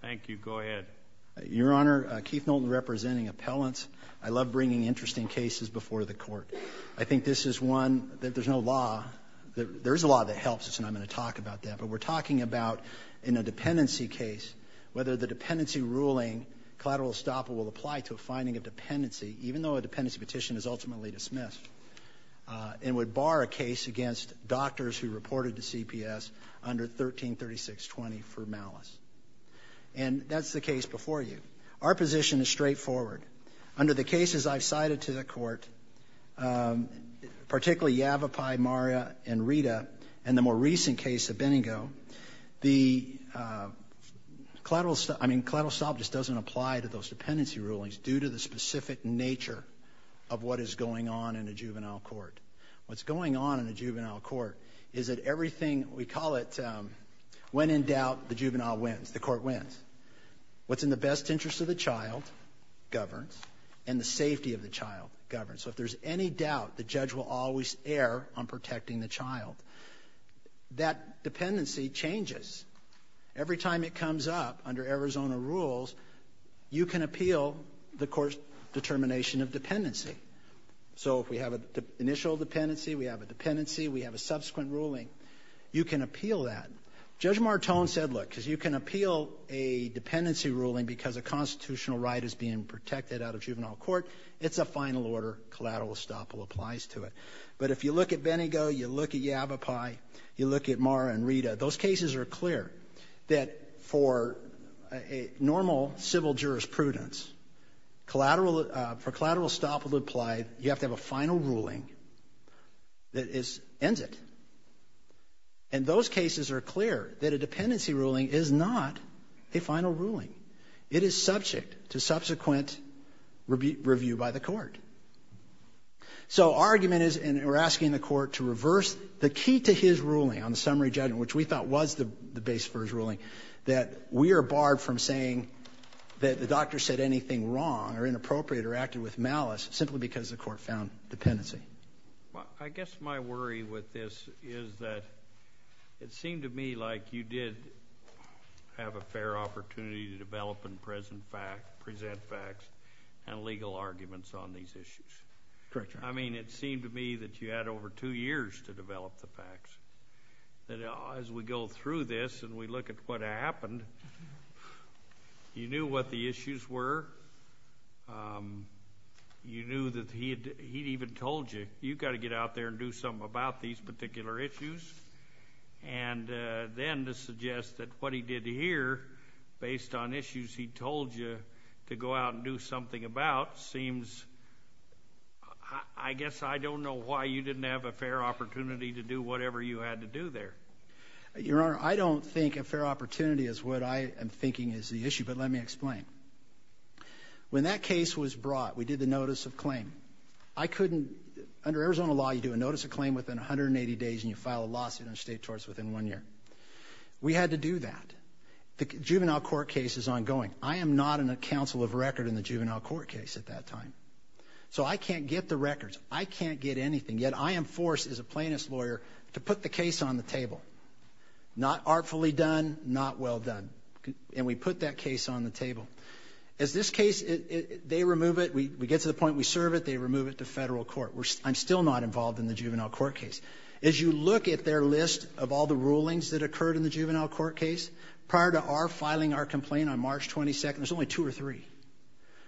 Thank you. Go ahead. Your Honor, Keith Knowlton representing appellants. I love bringing interesting cases before the court. I think this is one that there's no law that there's a lot that helps us and I'm going to talk about that. But we're talking about in a dependency case, whether the dependency ruling collateral estoppel will apply to a finding of dependency, even though a dependency petition is ultimately dismissed and would bar a case against doctors who reported to CPS under 1336 20 for malice. And that's the case before you. Our position is straightforward. Under the cases I've cited to the court, particularly Yavapai, Maria and Rita, and the more recent case of Benningo, the collateral, I mean collateral estoppel just doesn't apply to those dependency rulings due to the specific nature of what is going on in a juvenile court. What's going on in a juvenile court is that everything we call it, when in doubt, the juvenile wins, the court wins. What's in the best interest of the child governs and the safety of the child governs. So if there's any doubt, the judge will always err on protecting the child. That dependency changes. Every time it comes up under Arizona rules, you can appeal the court's determination of dependency. So if we have an initial dependency, we have a dependency, we have a subsequent ruling, you can appeal that. Judge Martone said, look, because you can appeal a dependency ruling because a constitutional right is being protected out of juvenile court. It's a final order. Collateral estoppel applies to it. But if you look at Benningo, you look at Yavapai, you look at Maria and Rita, those cases are clear that for a normal civil jurisprudence, for collateral estoppel to apply, you have to have a final ruling that ends it. And those cases are clear that a dependency ruling is not a final ruling. It is subject to subsequent review by the court. So our argument is, and we're asking the court to reverse the key to his ruling on the summary judgment, which we thought was the base for his ruling, that we are barred from saying that the doctor said anything wrong or inappropriate or acted with malice simply because the court found dependency. Well, I guess my worry with this is that it seemed to me like you did have a fair opportunity to develop and present facts and legal arguments on these issues. Correct, Your Honor. I mean, it seemed to me that you had over two years to develop the facts. As we go through this and we look at what happened, you knew what the issues were. You knew that he'd even told you, you've got to get out there and do something about these particular issues. And then to suggest that what he did here, based on issues he told you to go out and do something about, seems, I guess I don't know why you didn't have a fair opportunity to do whatever you had to do there. Your Honor, I don't think a fair opportunity is what I am thinking is the issue, but let me explain. When that case was brought, we did the notice of claim. Under Arizona law, you do a notice of claim within 180 days and you file a lawsuit on state torts within one year. We had to do that. The juvenile court case is ongoing. I am not in a counsel of record in the juvenile court case at that time. So I can't get the records. I can't get anything. Yet I am forced as a plaintiff's lawyer to put the case on the table. Not artfully done, not well done. And we put that case on the table. As this case, they remove it. We get to the point we serve it. They remove it to federal court. I am still not involved in the juvenile court case. As you look at their list of all the rulings that occurred in the juvenile court case, prior to our filing our complaint on March 22nd, there's only two or three.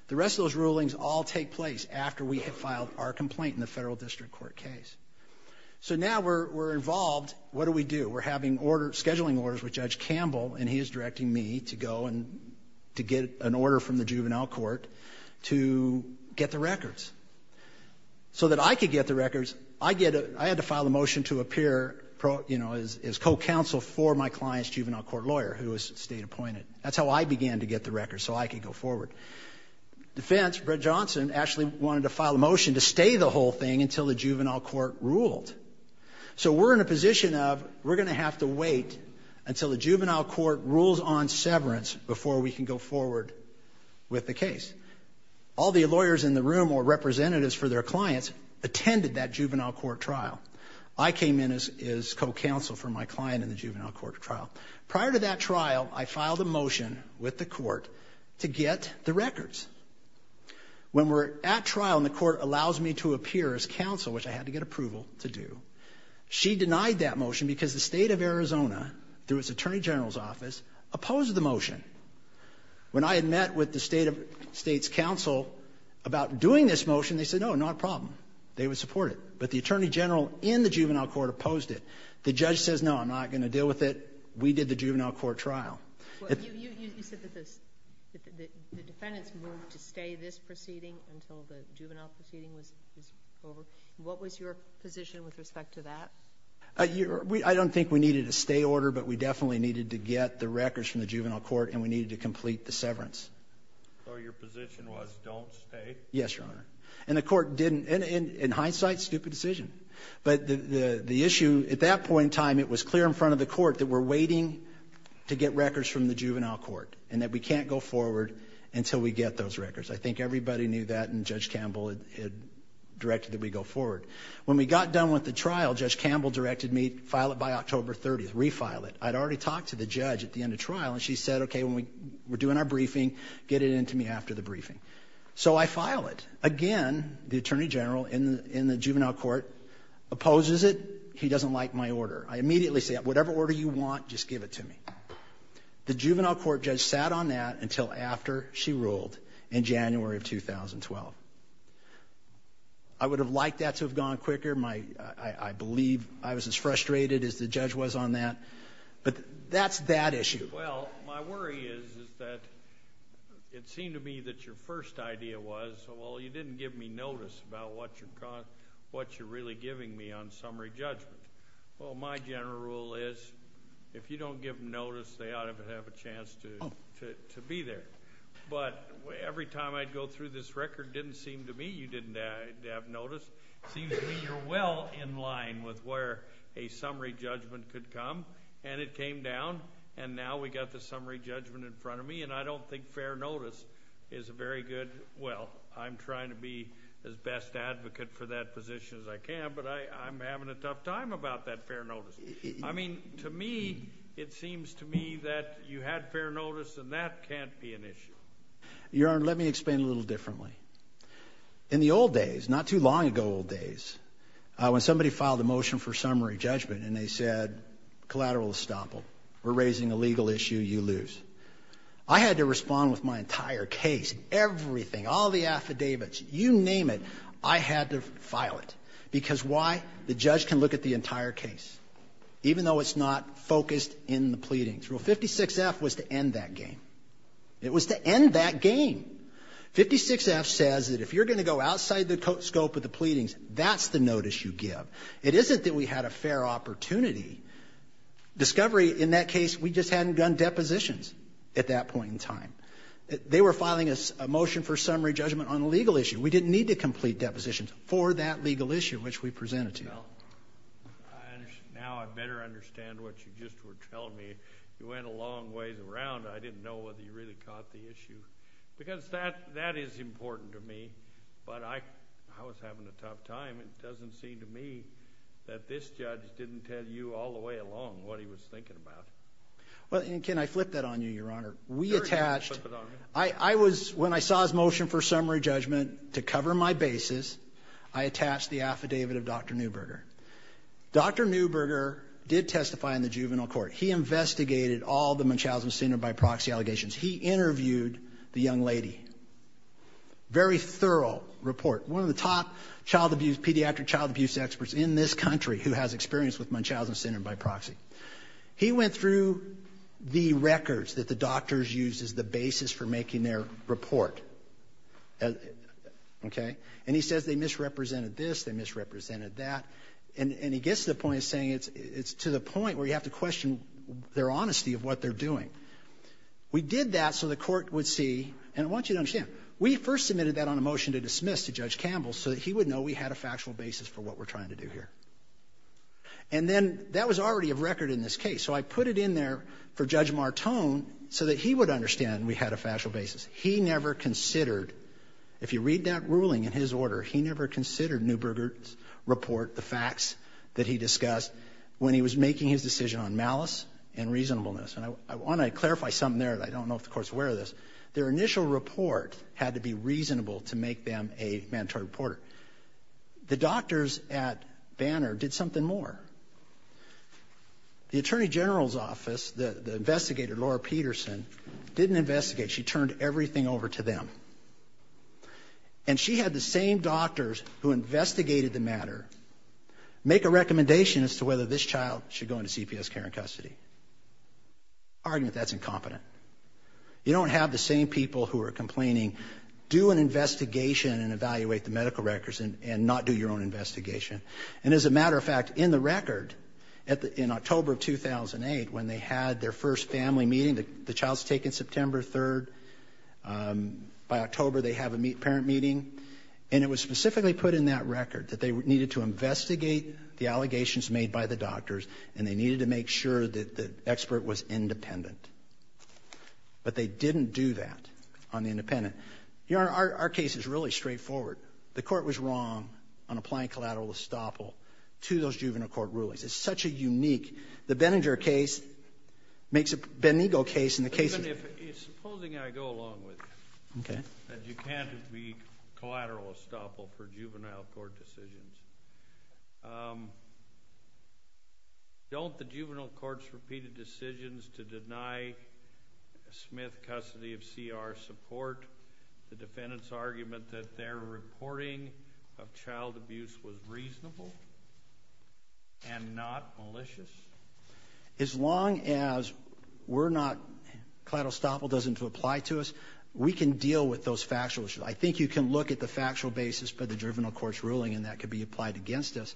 The rest of those rulings all take place after we have filed our complaint in the federal district court case. So now we're involved. What do we do? We're having scheduling orders with Judge Campbell, and he is directing me to go and to get an order from the juvenile court to get the records. So that I could get the records, I had to file a motion to appear as co-counsel for my client's juvenile court lawyer who was state appointed. That's how I began to get the records so I could go forward. Defense, Brett Johnson, actually wanted to file a motion to stay the whole thing until the juvenile court ruled. So we're in a position of we're going to have to wait until the juvenile court rules on severance before we can go forward with the case. All the lawyers in the room or representatives for their clients attended that juvenile court trial. I came in as co-counsel for my client in the juvenile court trial. Prior to that trial, I filed a motion with the court to get the records. When we're at trial and the court allows me to appear as counsel, which I had to get approval to do, she denied that motion because the state of Arizona, through its attorney general's office, opposed the motion. When I had met with the state's counsel about doing this motion, they said, no, not a problem. They would support it. But the attorney general in the juvenile court opposed it. The judge says, no, I'm not going to deal with it. We did the juvenile court trial. You said that the defendants moved to stay this proceeding until the juvenile proceeding was over. What was your position with respect to that? I don't think we needed a stay order, but we definitely needed to get the records from the juvenile court, and we needed to complete the severance. So your position was don't stay? Yes, Your Honor. And the court didn't. In hindsight, stupid decision. But the issue at that point in time, it was clear in front of the court that we're waiting to get records from the juvenile court and that we can't go forward until we get those records. I think everybody knew that, and Judge Campbell had directed that we go forward. When we got done with the trial, Judge Campbell directed me, file it by October 30th, refile it. I'd already talked to the judge at the end of trial, and she said, okay, we're doing our briefing. Get it in to me after the briefing. So I file it. Again, the attorney general in the juvenile court opposes it. He doesn't like my order. I immediately say, whatever order you want, just give it to me. The juvenile court judge sat on that until after she ruled in January of 2012. I would have liked that to have gone quicker. I believe I was as frustrated as the judge was on that. But that's that issue. Well, my worry is that it seemed to me that your first idea was, well, you didn't give me notice about what you're really giving me on summary judgment. Well, my general rule is if you don't give them notice, they ought to have a chance to be there. But every time I'd go through this record, it didn't seem to me you didn't have notice. It seems to me you're well in line with where a summary judgment could come, and it came down, and now we've got the summary judgment in front of me, and I don't think fair notice is a very good – well, I'm trying to be as best advocate for that position as I can, but I'm having a tough time about that fair notice. I mean, to me, it seems to me that you had fair notice, and that can't be an issue. Your Honor, let me explain a little differently. In the old days, not too long ago old days, when somebody filed a motion for summary judgment and they said collateral estoppel, we're raising a legal issue, you lose, I had to respond with my entire case, everything, all the affidavits, you name it, I had to file it because why? The judge can look at the entire case, even though it's not focused in the pleadings. Rule 56F was to end that game. It was to end that game. Rule 56F says that if you're going to go outside the scope of the pleadings, that's the notice you give. It isn't that we had a fair opportunity. Discovery, in that case, we just hadn't done depositions at that point in time. They were filing a motion for summary judgment on a legal issue. We didn't need to complete depositions for that legal issue, which we presented to you. Now I better understand what you just were telling me. You went a long ways around. I didn't know whether you really caught the issue because that is important to me, but I was having a tough time. It doesn't seem to me that this judge didn't tell you all the way along what he was thinking about. Well, and can I flip that on you, Your Honor? Sure, you can flip it on me. When I saw his motion for summary judgment to cover my bases, I attached the affidavit of Dr. Neuberger. Dr. Neuberger did testify in the juvenile court. He investigated all the Munchausen syndrome by proxy allegations. He interviewed the young lady. Very thorough report. One of the top child abuse, pediatric child abuse experts in this country who has experience with Munchausen syndrome by proxy. He went through the records that the doctors used as the basis for making their report, okay? And he says they misrepresented this, they misrepresented that, and he gets to the point of saying it's to the point where you have to question their honesty of what they're doing. We did that so the court would see, and I want you to understand, we first submitted that on a motion to dismiss to Judge Campbell so that he would know we had a factual basis for what we're trying to do here. And then that was already a record in this case, so I put it in there for Judge Martone so that he would understand we had a factual basis. He never considered, if you read that ruling in his order, he never considered Neuberger's report, the facts that he discussed, when he was making his decision on malice and reasonableness. And I want to clarify something there. I don't know if the court's aware of this. Their initial report had to be reasonable to make them a mandatory reporter. The doctors at Banner did something more. The Attorney General's office, the investigator, Laura Peterson, didn't investigate. She turned everything over to them. And she had the same doctors who investigated the matter make a recommendation as to whether this child should go into CPS care and custody. Argument, that's incompetent. You don't have the same people who are complaining, do an investigation and evaluate the medical records and not do your own investigation. And as a matter of fact, in the record, in October of 2008, when they had their first family meeting, the child's taken September 3rd. By October, they have a parent meeting. And it was specifically put in that record, that they needed to investigate the allegations made by the doctors, and they needed to make sure that the expert was independent. But they didn't do that on the independent. Your Honor, our case is really straightforward. The court was wrong on applying collateral estoppel to those juvenile court rulings. It's such a unique. The Benninger case makes a Benegal case in the case of. Supposing I go along with you. Okay. That you can't be collateral estoppel for juvenile court decisions. Don't the juvenile court's repeated decisions to deny Smith custody of CR support the defendant's argument that their reporting of child abuse was reasonable and not malicious? As long as collateral estoppel doesn't apply to us, we can deal with those factual issues. I think you can look at the factual basis for the juvenile court's ruling, and that could be applied against us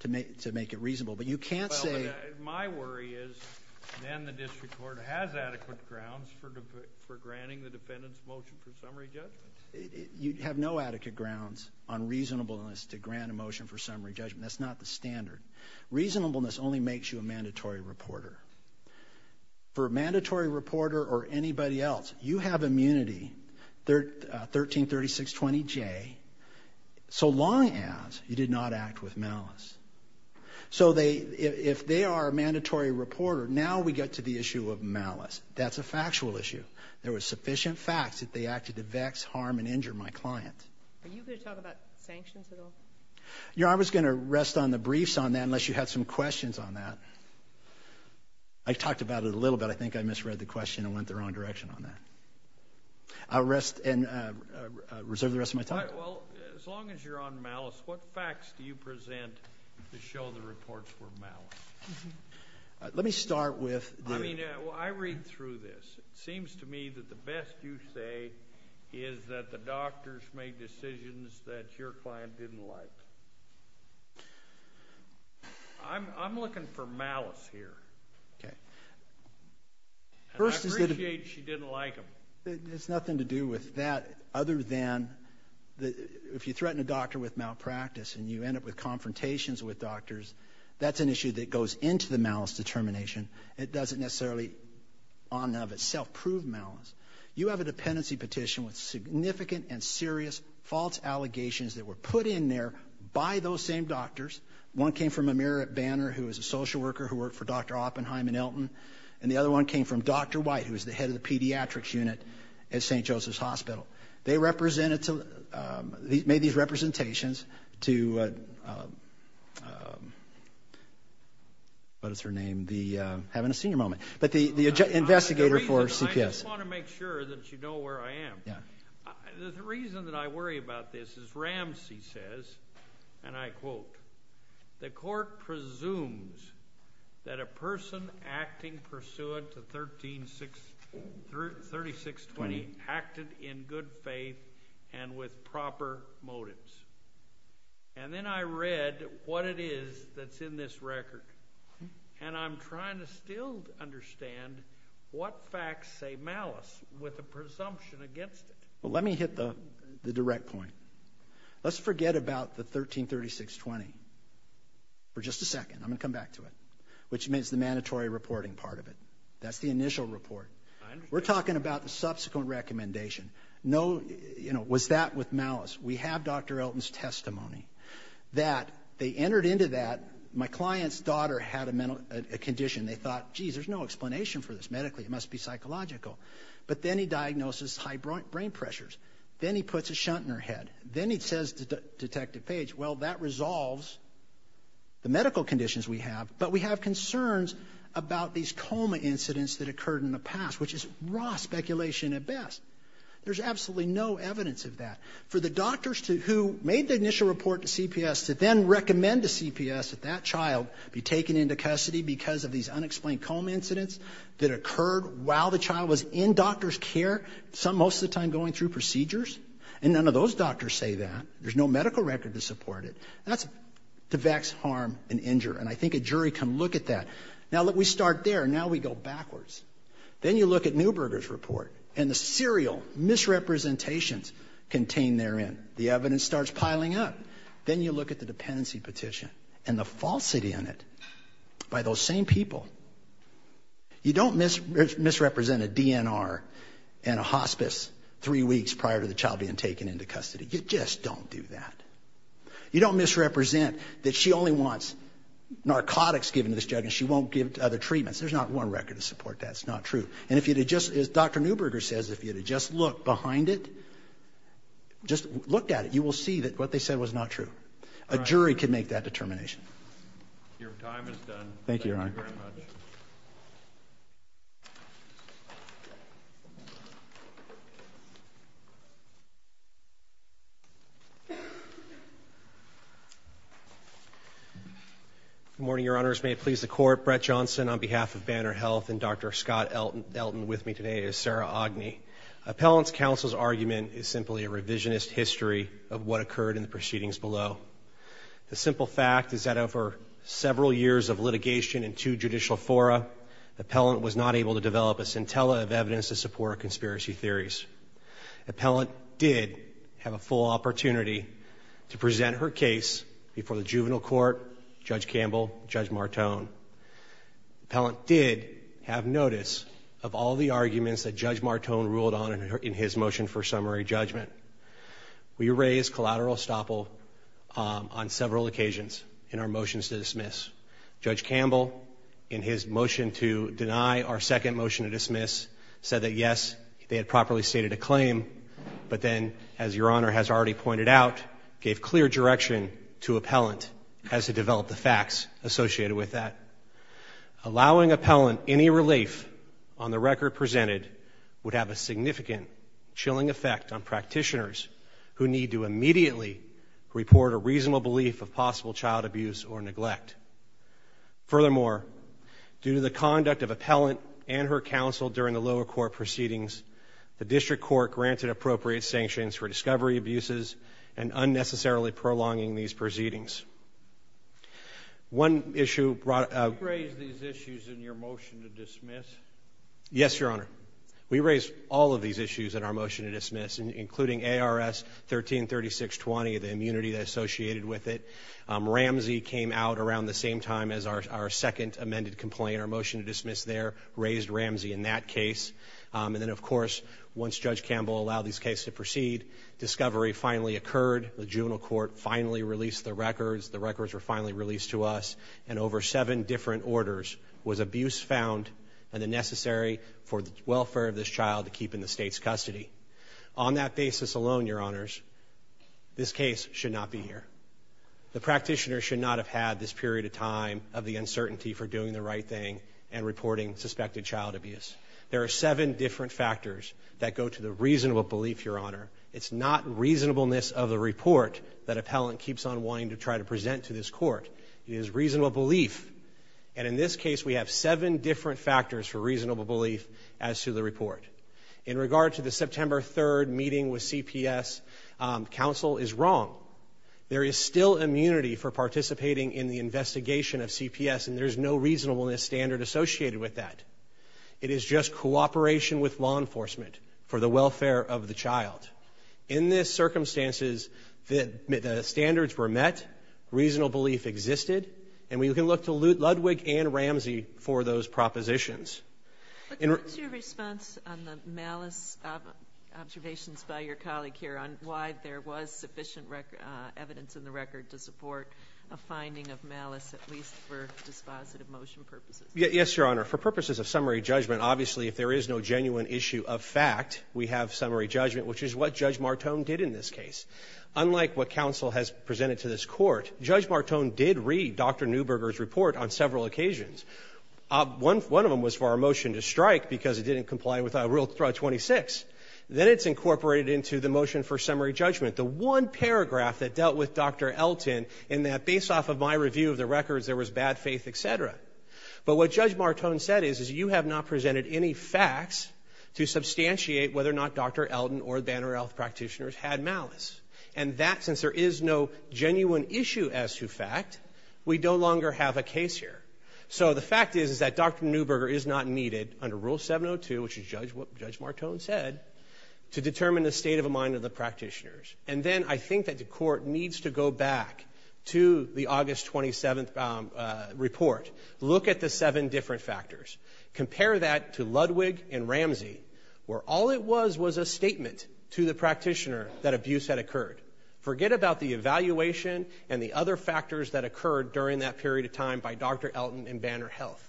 to make it reasonable. But you can't say. My worry is then the district court has adequate grounds for granting the defendant's motion for summary judgment. You have no adequate grounds on reasonableness to grant a motion for summary judgment. That's not the standard. Reasonableness only makes you a mandatory reporter. For a mandatory reporter or anybody else, you have immunity, 133620J, so long as you did not act with malice. So if they are a mandatory reporter, now we get to the issue of malice. That's a factual issue. There were sufficient facts that they acted to vex, harm, and injure my client. Are you going to talk about sanctions at all? I was going to rest on the briefs on that unless you had some questions on that. I talked about it a little bit. I think I misread the question and went the wrong direction on that. I'll rest and reserve the rest of my time. Well, as long as you're on malice, what facts do you present to show the reports were malice? Let me start with the— I mean, I read through this. It seems to me that the best you say is that the doctors made decisions that your client didn't like. I'm looking for malice here. Okay. I appreciate she didn't like them. It has nothing to do with that other than if you threaten a doctor with malpractice and you end up with confrontations with doctors, that's an issue that goes into the malice determination. It doesn't necessarily, in and of itself, prove malice. You have a dependency petition with significant and serious false allegations that were put in there by those same doctors. One came from Amir Banner, who was a social worker who worked for Dr. Oppenheim and Elton, and the other one came from Dr. White, who was the head of the pediatrics unit at St. Joseph's Hospital. They made these representations to—what is her name? Having a senior moment. But the investigator for CPS— I just want to make sure that you know where I am. The reason that I worry about this is Ramsey says, and I quote, the court presumes that a person acting pursuant to 133620 acted in good faith and with proper motives. And then I read what it is that's in this record, and I'm trying to still understand what facts say malice with a presumption against it. Let me hit the direct point. Let's forget about the 133620 for just a second. I'm going to come back to it, which means the mandatory reporting part of it. That's the initial report. We're talking about the subsequent recommendation. Was that with malice? We have Dr. Elton's testimony that they entered into that. My client's daughter had a condition. They thought, geez, there's no explanation for this medically. It must be psychological. But then he diagnoses high brain pressures. Then he puts a shunt in her head. Then he says to Detective Page, well, that resolves the medical conditions we have, but we have concerns about these coma incidents that occurred in the past, which is raw speculation at best. There's absolutely no evidence of that. For the doctors who made the initial report to CPS to then recommend to CPS that that child be taken into custody because of these unexplained coma incidents that occurred while the child was in doctor's care, some most of the time going through procedures, and none of those doctors say that. There's no medical record to support it. That's to vex harm and injure, and I think a jury can look at that. Now, look, we start there. Now we go backwards. Then you look at Neuberger's report and the serial misrepresentations contained therein. The evidence starts piling up. Then you look at the dependency petition and the falsity in it by those same people. You don't misrepresent a DNR and a hospice three weeks prior to the child being taken into custody. You just don't do that. You don't misrepresent that she only wants narcotics given to this child and she won't give other treatments. There's not one record to support that. It's not true. And if you had just, as Dr. Neuberger says, if you had just looked behind it, just looked at it, you will see that what they said was not true. A jury can make that determination. Your time is done. Thank you, Your Honor. Good morning, Your Honors. May it please the Court, Brett Johnson on behalf of Banner Health and Dr. Scott Elton with me today is Sarah Ogney. Appellant's counsel's argument is simply a revisionist history of what occurred in the proceedings below. The simple fact is that over several years of litigation in two judicial fora, appellant was not able to develop a scintilla of evidence to support conspiracy theories. Appellant did have a full opportunity to present her case before the juvenile court, Judge Campbell, Judge Martone. Appellant did have notice of all the arguments that Judge Martone ruled on in his motion for summary judgment. We raised collateral estoppel on several occasions in our motions to dismiss. Judge Campbell, in his motion to deny our second motion to dismiss, said that, yes, they had properly stated a claim, but then, as Your Honor has already pointed out, gave clear direction to appellant as to develop the facts associated with that. Allowing appellant any relief on the record presented would have a significant chilling effect on practitioners who need to immediately report a reasonable belief of possible child abuse or neglect. Furthermore, due to the conduct of appellant and her counsel during the lower court proceedings, the district court granted appropriate sanctions for discovery abuses and unnecessarily prolonging these proceedings. One issue brought up... You raised these issues in your motion to dismiss? Yes, Your Honor. We raised all of these issues in our motion to dismiss, including ARS 133620, the immunity associated with it. Ramsey came out around the same time as our second amended complaint. Our motion to dismiss there raised Ramsey in that case. And then, of course, once Judge Campbell allowed these cases to proceed, discovery finally occurred. The juvenile court finally released the records. The records were finally released to us, and over seven different orders was abuse found and the necessary for the welfare of this child to keep in the state's custody. On that basis alone, Your Honors, this case should not be here. The practitioner should not have had this period of time of the uncertainty for doing the right thing and reporting suspected child abuse. There are seven different factors that go to the reasonable belief, Your Honor. It's not reasonableness of the report that appellant keeps on wanting to try to present to this court. It is reasonable belief. And in this case, we have seven different factors for reasonable belief as to the report. In regard to the September 3rd meeting with CPS, counsel is wrong. There is still immunity for participating in the investigation of CPS, and there's no reasonableness standard associated with that. It is just cooperation with law enforcement for the welfare of the child. In this circumstances, the standards were met, reasonable belief existed, and we can look to Ludwig and Ramsey for those propositions. What's your response on the malice observations by your colleague here on why there was sufficient evidence in the record to support a finding of malice, at least for dispositive motion purposes? Yes, Your Honor. For purposes of summary judgment, obviously if there is no genuine issue of fact, we have summary judgment, which is what Judge Martone did in this case. Unlike what counsel has presented to this court, Judge Martone did read Dr. Neuberger's report on several occasions. One of them was for our motion to strike because it didn't comply with Rule 26. Then it's incorporated into the motion for summary judgment. The one paragraph that dealt with Dr. Elton in that, based off of my review of the records, there was bad faith, et cetera. But what Judge Martone said is you have not presented any facts to substantiate whether or not Dr. Elton or Banner Health practitioners had malice. And that, since there is no genuine issue as to fact, we no longer have a case here. So the fact is that Dr. Neuberger is not needed under Rule 702, which is what Judge Martone said, to determine the state of mind of the practitioners. And then I think that the court needs to go back to the August 27th report, look at the seven different factors, compare that to Ludwig and Ramsey, where all it was was a statement to the practitioner that abuse had occurred. Forget about the evaluation and the other factors that occurred during that period of time by Dr. Elton and Banner Health.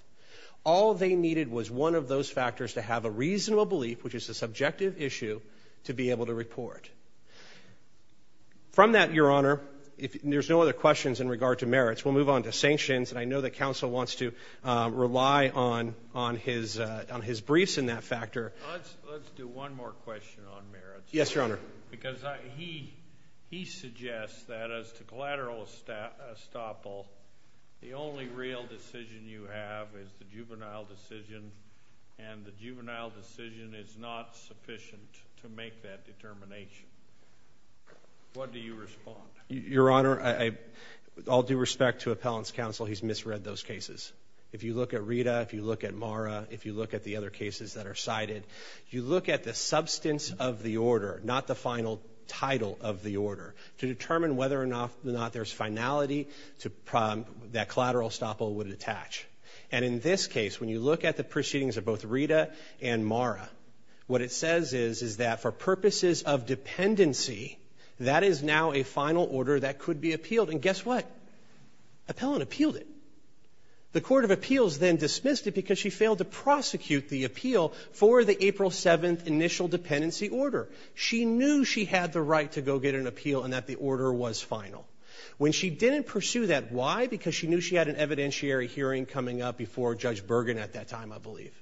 All they needed was one of those factors to have a reasonable belief, which is a subjective issue, to be able to report. From that, Your Honor, there's no other questions in regard to merits. We'll move on to sanctions. And I know that counsel wants to rely on his briefs in that factor. Let's do one more question on merits. Yes, Your Honor. Because he suggests that as to collateral estoppel, the only real decision you have is the juvenile decision, and the juvenile decision is not sufficient to make that determination. What do you respond? Your Honor, with all due respect to appellant's counsel, he's misread those cases. If you look at Rita, if you look at Mara, if you look at the other cases that are cited, you look at the substance of the order, not the final title of the order, to determine whether or not there's finality that collateral estoppel would attach. And in this case, when you look at the proceedings of both Rita and Mara, what it says is that for purposes of dependency, that is now a final order that could be appealed. And guess what? Appellant appealed it. The court of appeals then dismissed it because she failed to prosecute the appeal for the April 7th initial dependency order. She knew she had the right to go get an appeal and that the order was final. When she didn't pursue that, why? Because she knew she had an evidentiary hearing coming up before Judge Bergen at that time, I believe.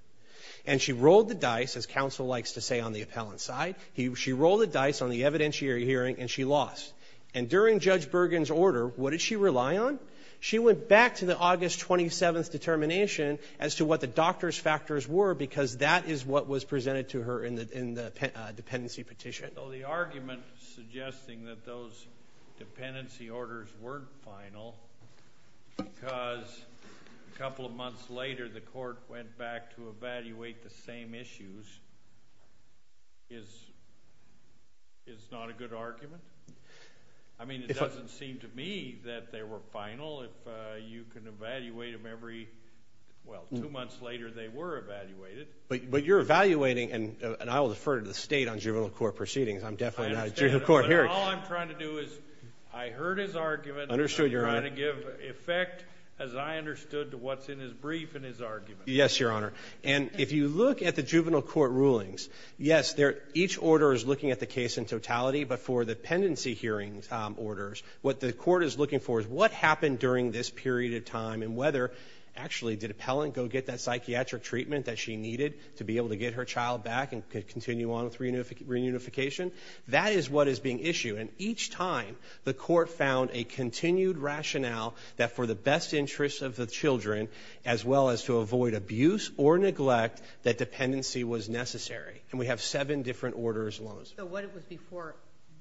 And she rolled the dice, as counsel likes to say on the appellant's side, she rolled the dice on the evidentiary hearing and she lost. And during Judge Bergen's order, what did she rely on? She went back to the August 27th determination as to what the doctor's factors were because that is what was presented to her in the dependency petition. So the argument suggesting that those dependency orders weren't final because a couple of months later the court went back to evaluate the same issues is not a good argument? I mean, it doesn't seem to me that they were final. If you can evaluate them every, well, two months later they were evaluated. But you're evaluating, and I will defer to the state on juvenile court proceedings. I'm definitely not a juvenile court hearing. All I'm trying to do is I heard his argument. Understood, Your Honor. I'm trying to give effect, as I understood, to what's in his brief and his argument. Yes, Your Honor. And if you look at the juvenile court rulings, yes, each order is looking at the case in totality. But for the dependency hearings orders, what the court is looking for is what happened during this period of time and whether, actually, did appellant go get that psychiatric treatment that she needed to be able to get her child back and continue on with reunification. That is what is being issued. And each time the court found a continued rationale that for the best interests of the children, as well as to avoid abuse or neglect, that dependency was necessary. And we have seven different orders. So what it was before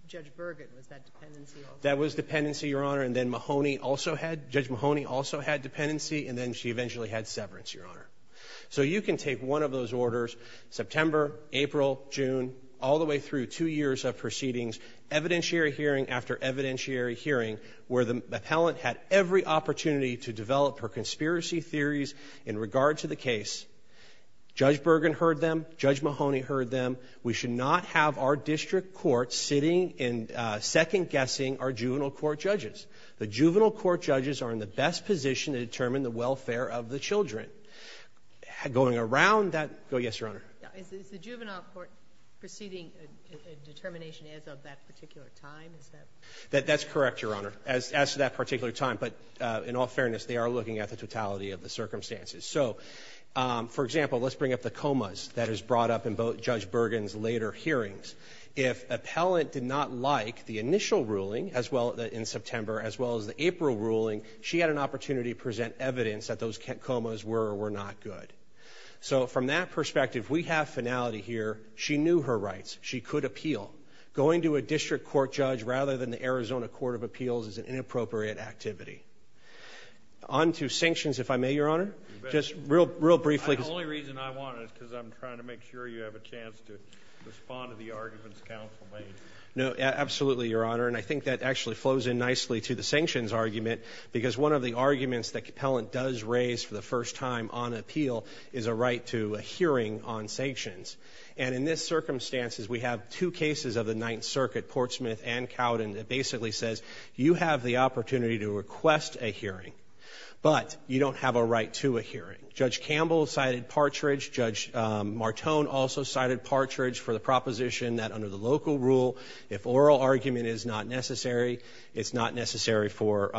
Judge Burgett was that dependency? That was dependency, Your Honor. And then Mahoney also had – Judge Mahoney also had dependency. And then she eventually had severance, Your Honor. So you can take one of those orders, September, April, June, all the way through two years of proceedings, evidentiary hearing after evidentiary hearing, where the appellant had every opportunity to develop her conspiracy theories in regard to the case. Judge Burgen heard them. Judge Mahoney heard them. We should not have our district court sitting and second-guessing our juvenile court judges. The juvenile court judges are in the best position to determine the welfare of the children. Going around that – oh, yes, Your Honor. Is the juvenile court proceeding a determination as of that particular time? Is that – That's correct, Your Honor, as to that particular time. But in all fairness, they are looking at the totality of the circumstances. So, for example, let's bring up the comas that is brought up in both Judge Burgen's later hearings. She had an opportunity to present evidence that those comas were or were not good. So, from that perspective, we have finality here. She knew her rights. She could appeal. Going to a district court judge rather than the Arizona Court of Appeals is an inappropriate activity. On to sanctions, if I may, Your Honor, just real briefly. The only reason I want it is because I'm trying to make sure you have a chance to respond to the arguments counsel made. No, absolutely, Your Honor, and I think that actually flows in nicely to the argument because one of the arguments that Capellent does raise for the first time on appeal is a right to a hearing on sanctions. And in this circumstances, we have two cases of the Ninth Circuit, Portsmouth and Cowden, that basically says you have the opportunity to request a hearing, but you don't have a right to a hearing. Judge Campbell cited partridge. Judge Martone also cited partridge for the proposition that under the local rule, if oral argument is not necessary, it's not necessary for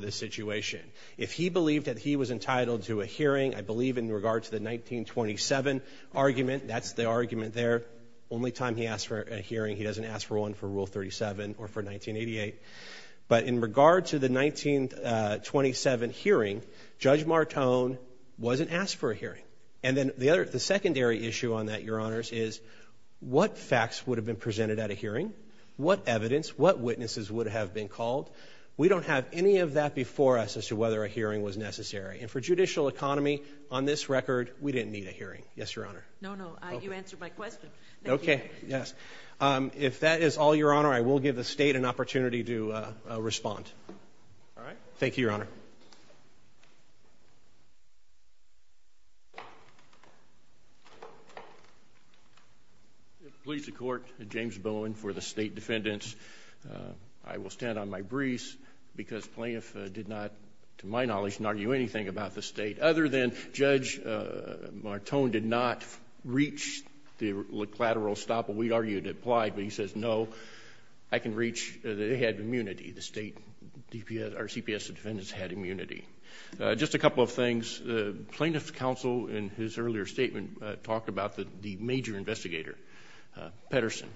this situation. If he believed that he was entitled to a hearing, I believe in regard to the 1927 argument, that's the argument there. Only time he asked for a hearing, he doesn't ask for one for Rule 37 or for 1988. But in regard to the 1927 hearing, Judge Martone wasn't asked for a hearing. And then the other, the secondary issue on that, Your Honors, is what facts would have been presented at a hearing, what evidence, what witnesses would have been called. We don't have any of that before us as to whether a hearing was necessary. And for judicial economy, on this record, we didn't need a hearing. Yes, Your Honor. No, no. You answered my question. Okay. Yes. If that is all, Your Honor, I will give the State an opportunity to respond. All right. Thank you, Your Honor. If it pleases the Court, James Bowen for the State Defendants. I will stand on my briefs because Plaintiff did not, to my knowledge, argue anything about the State, other than Judge Martone did not reach the collateral stop. We argued it applied, but he says, no, I can reach the head of immunity, the State, our CPS defendants had immunity. Just a couple of things. Plaintiff's counsel, in his earlier statement, talked about the major investigator, Pettersen,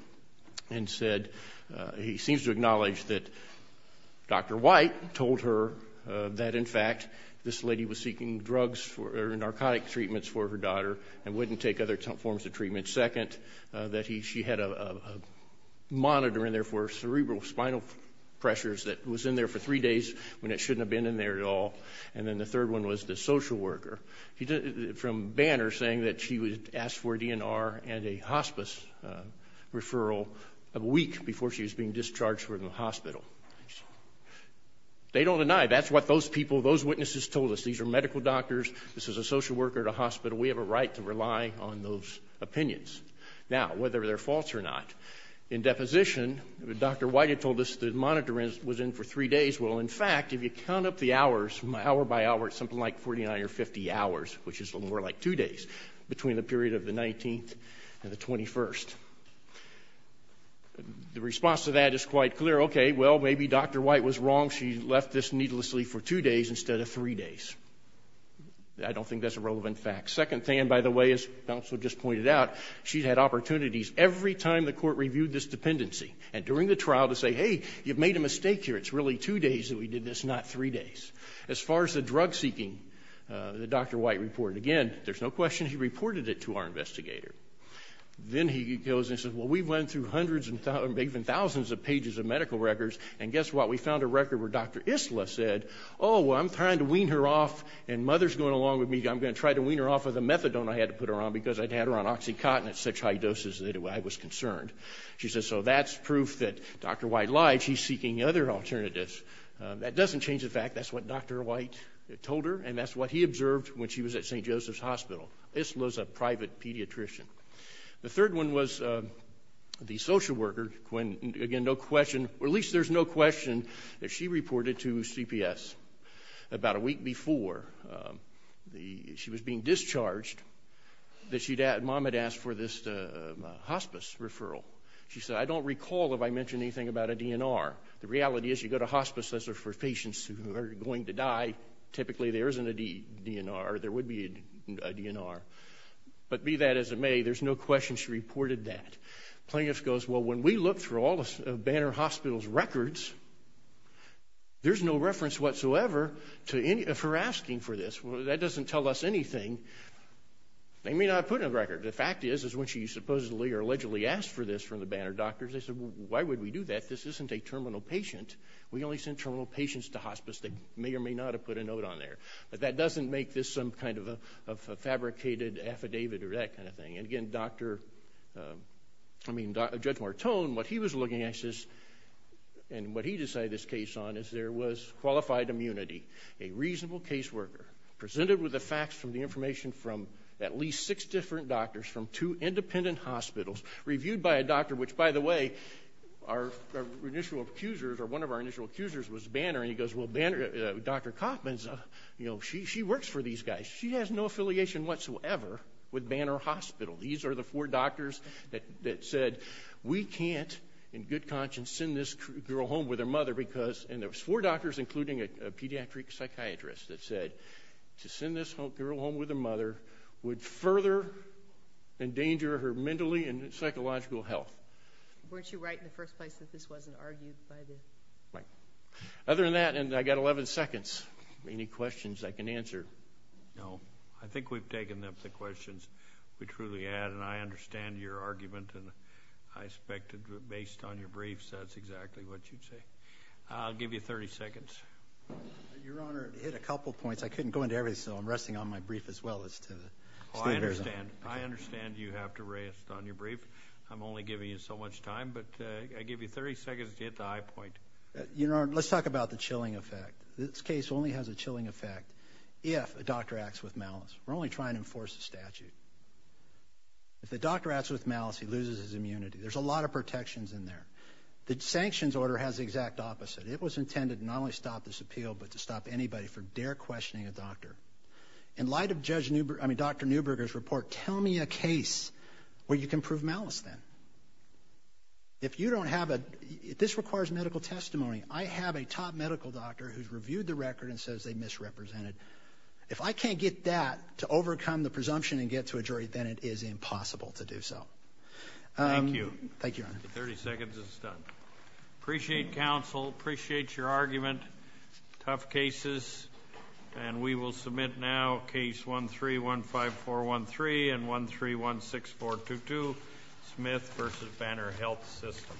and said, he seems to acknowledge that Dr. White told her that, in fact, this lady was seeking drugs or narcotic treatments for her daughter and wouldn't take other forms of treatment. That she had a monitor in there for cerebrospinal pressures that was in there for three days when it shouldn't have been in there at all. And then the third one was the social worker, from Banner, saying that she was asked for a DNR and a hospice referral a week before she was being discharged from the hospital. They don't deny. That's what those people, those witnesses told us. This is a social worker at a hospital. We have a right to rely on those opinions. Now, whether they're false or not, in deposition, Dr. White had told us the monitor was in for three days. Well, in fact, if you count up the hours, hour by hour, it's something like 49 or 50 hours, which is a little more like two days, between the period of the 19th and the 21st. The response to that is quite clear. Okay, well, maybe Dr. White was wrong. She left this needlessly for two days instead of three days. I don't think that's a relevant fact. Second thing, by the way, as counsel just pointed out, she's had opportunities every time the court reviewed this dependency, and during the trial, to say, hey, you've made a mistake here. It's really two days that we did this, not three days. As far as the drug-seeking, the Dr. White report, again, there's no question he reported it to our investigator. Then he goes and says, well, we went through hundreds and even thousands of pages of medical records, and guess what? We found a record where Dr. Isla said, oh, well, I'm trying to wean her off, and Mother's going along with me. I'm going to try to wean her off of the methadone I had to put her on because I'd had her on oxycontin at such high doses that I was concerned. She says, so that's proof that Dr. White lied. She's seeking other alternatives. That doesn't change the fact. That's what Dr. White told her, and that's what he observed when she was at St. Joseph's Hospital. Isla's a private pediatrician. The third one was the social worker, when, again, no question, or at least there's no question that she reported to CPS about a week before she was being discharged that Mom had asked for this hospice referral. She said, I don't recall if I mentioned anything about a DNR. The reality is you go to hospice, those are for patients who are going to die. Typically, there isn't a DNR. There would be a DNR, but be that as it may, there's no question she reported that. Plaintiff goes, well, when we looked through all of Banner Hospital's records, there's no reference whatsoever to her asking for this. That doesn't tell us anything. They may not have put in a record. The fact is, is when she supposedly or allegedly asked for this from the Banner doctors, they said, well, why would we do that? This isn't a terminal patient. We only send terminal patients to hospice. They may or may not have put a note on there. But that doesn't make this some kind of a fabricated affidavit or that kind of thing. Again, Judge Martone, what he was looking at, and what he decided this case on, is there was qualified immunity, a reasonable caseworker, presented with the facts from the information from at least six different doctors from two independent hospitals, reviewed by a doctor, which, by the way, one of our initial accusers was Banner. He goes, well, Dr. Kaufman, she works for these guys. She has no affiliation whatsoever with Banner Hospital. These are the four doctors that said, we can't, in good conscience, send this girl home with her mother because, and there was four doctors, including a pediatric psychiatrist, that said to send this girl home with her mother would further endanger her mentally and psychological health. Weren't you right in the first place that this wasn't argued by the? Right. Other than that, and I've got 11 seconds. Any questions I can answer? No. I think we've taken up the questions we truly had, and I understand your argument, and I expected, based on your briefs, that's exactly what you'd say. I'll give you 30 seconds. Your Honor, it hit a couple points. I couldn't go into everything, so I'm resting on my brief as well as to the standards. I understand. I understand you have to rest on your brief. I'm only giving you so much time, but I give you 30 seconds to hit the high point. Your Honor, let's talk about the chilling effect. This case only has a chilling effect. If a doctor acts with malice. We're only trying to enforce a statute. If the doctor acts with malice, he loses his immunity. There's a lot of protections in there. The sanctions order has the exact opposite. It was intended to not only stop this appeal, but to stop anybody from dare questioning a doctor. In light of Judge Newberg, I mean Dr. Newberger's report, tell me a case where you can prove malice then. If you don't have a, this requires medical testimony. I have a top medical doctor who's reviewed the record and says they misrepresented. If I can't get that to overcome the presumption and get to a jury, then it is impossible to do so. Thank you. Thank you, Your Honor. 30 seconds and it's done. Appreciate counsel. Appreciate your argument. Tough cases. And we will submit now case 1315413 and 1316422, Smith v. Banner Health System.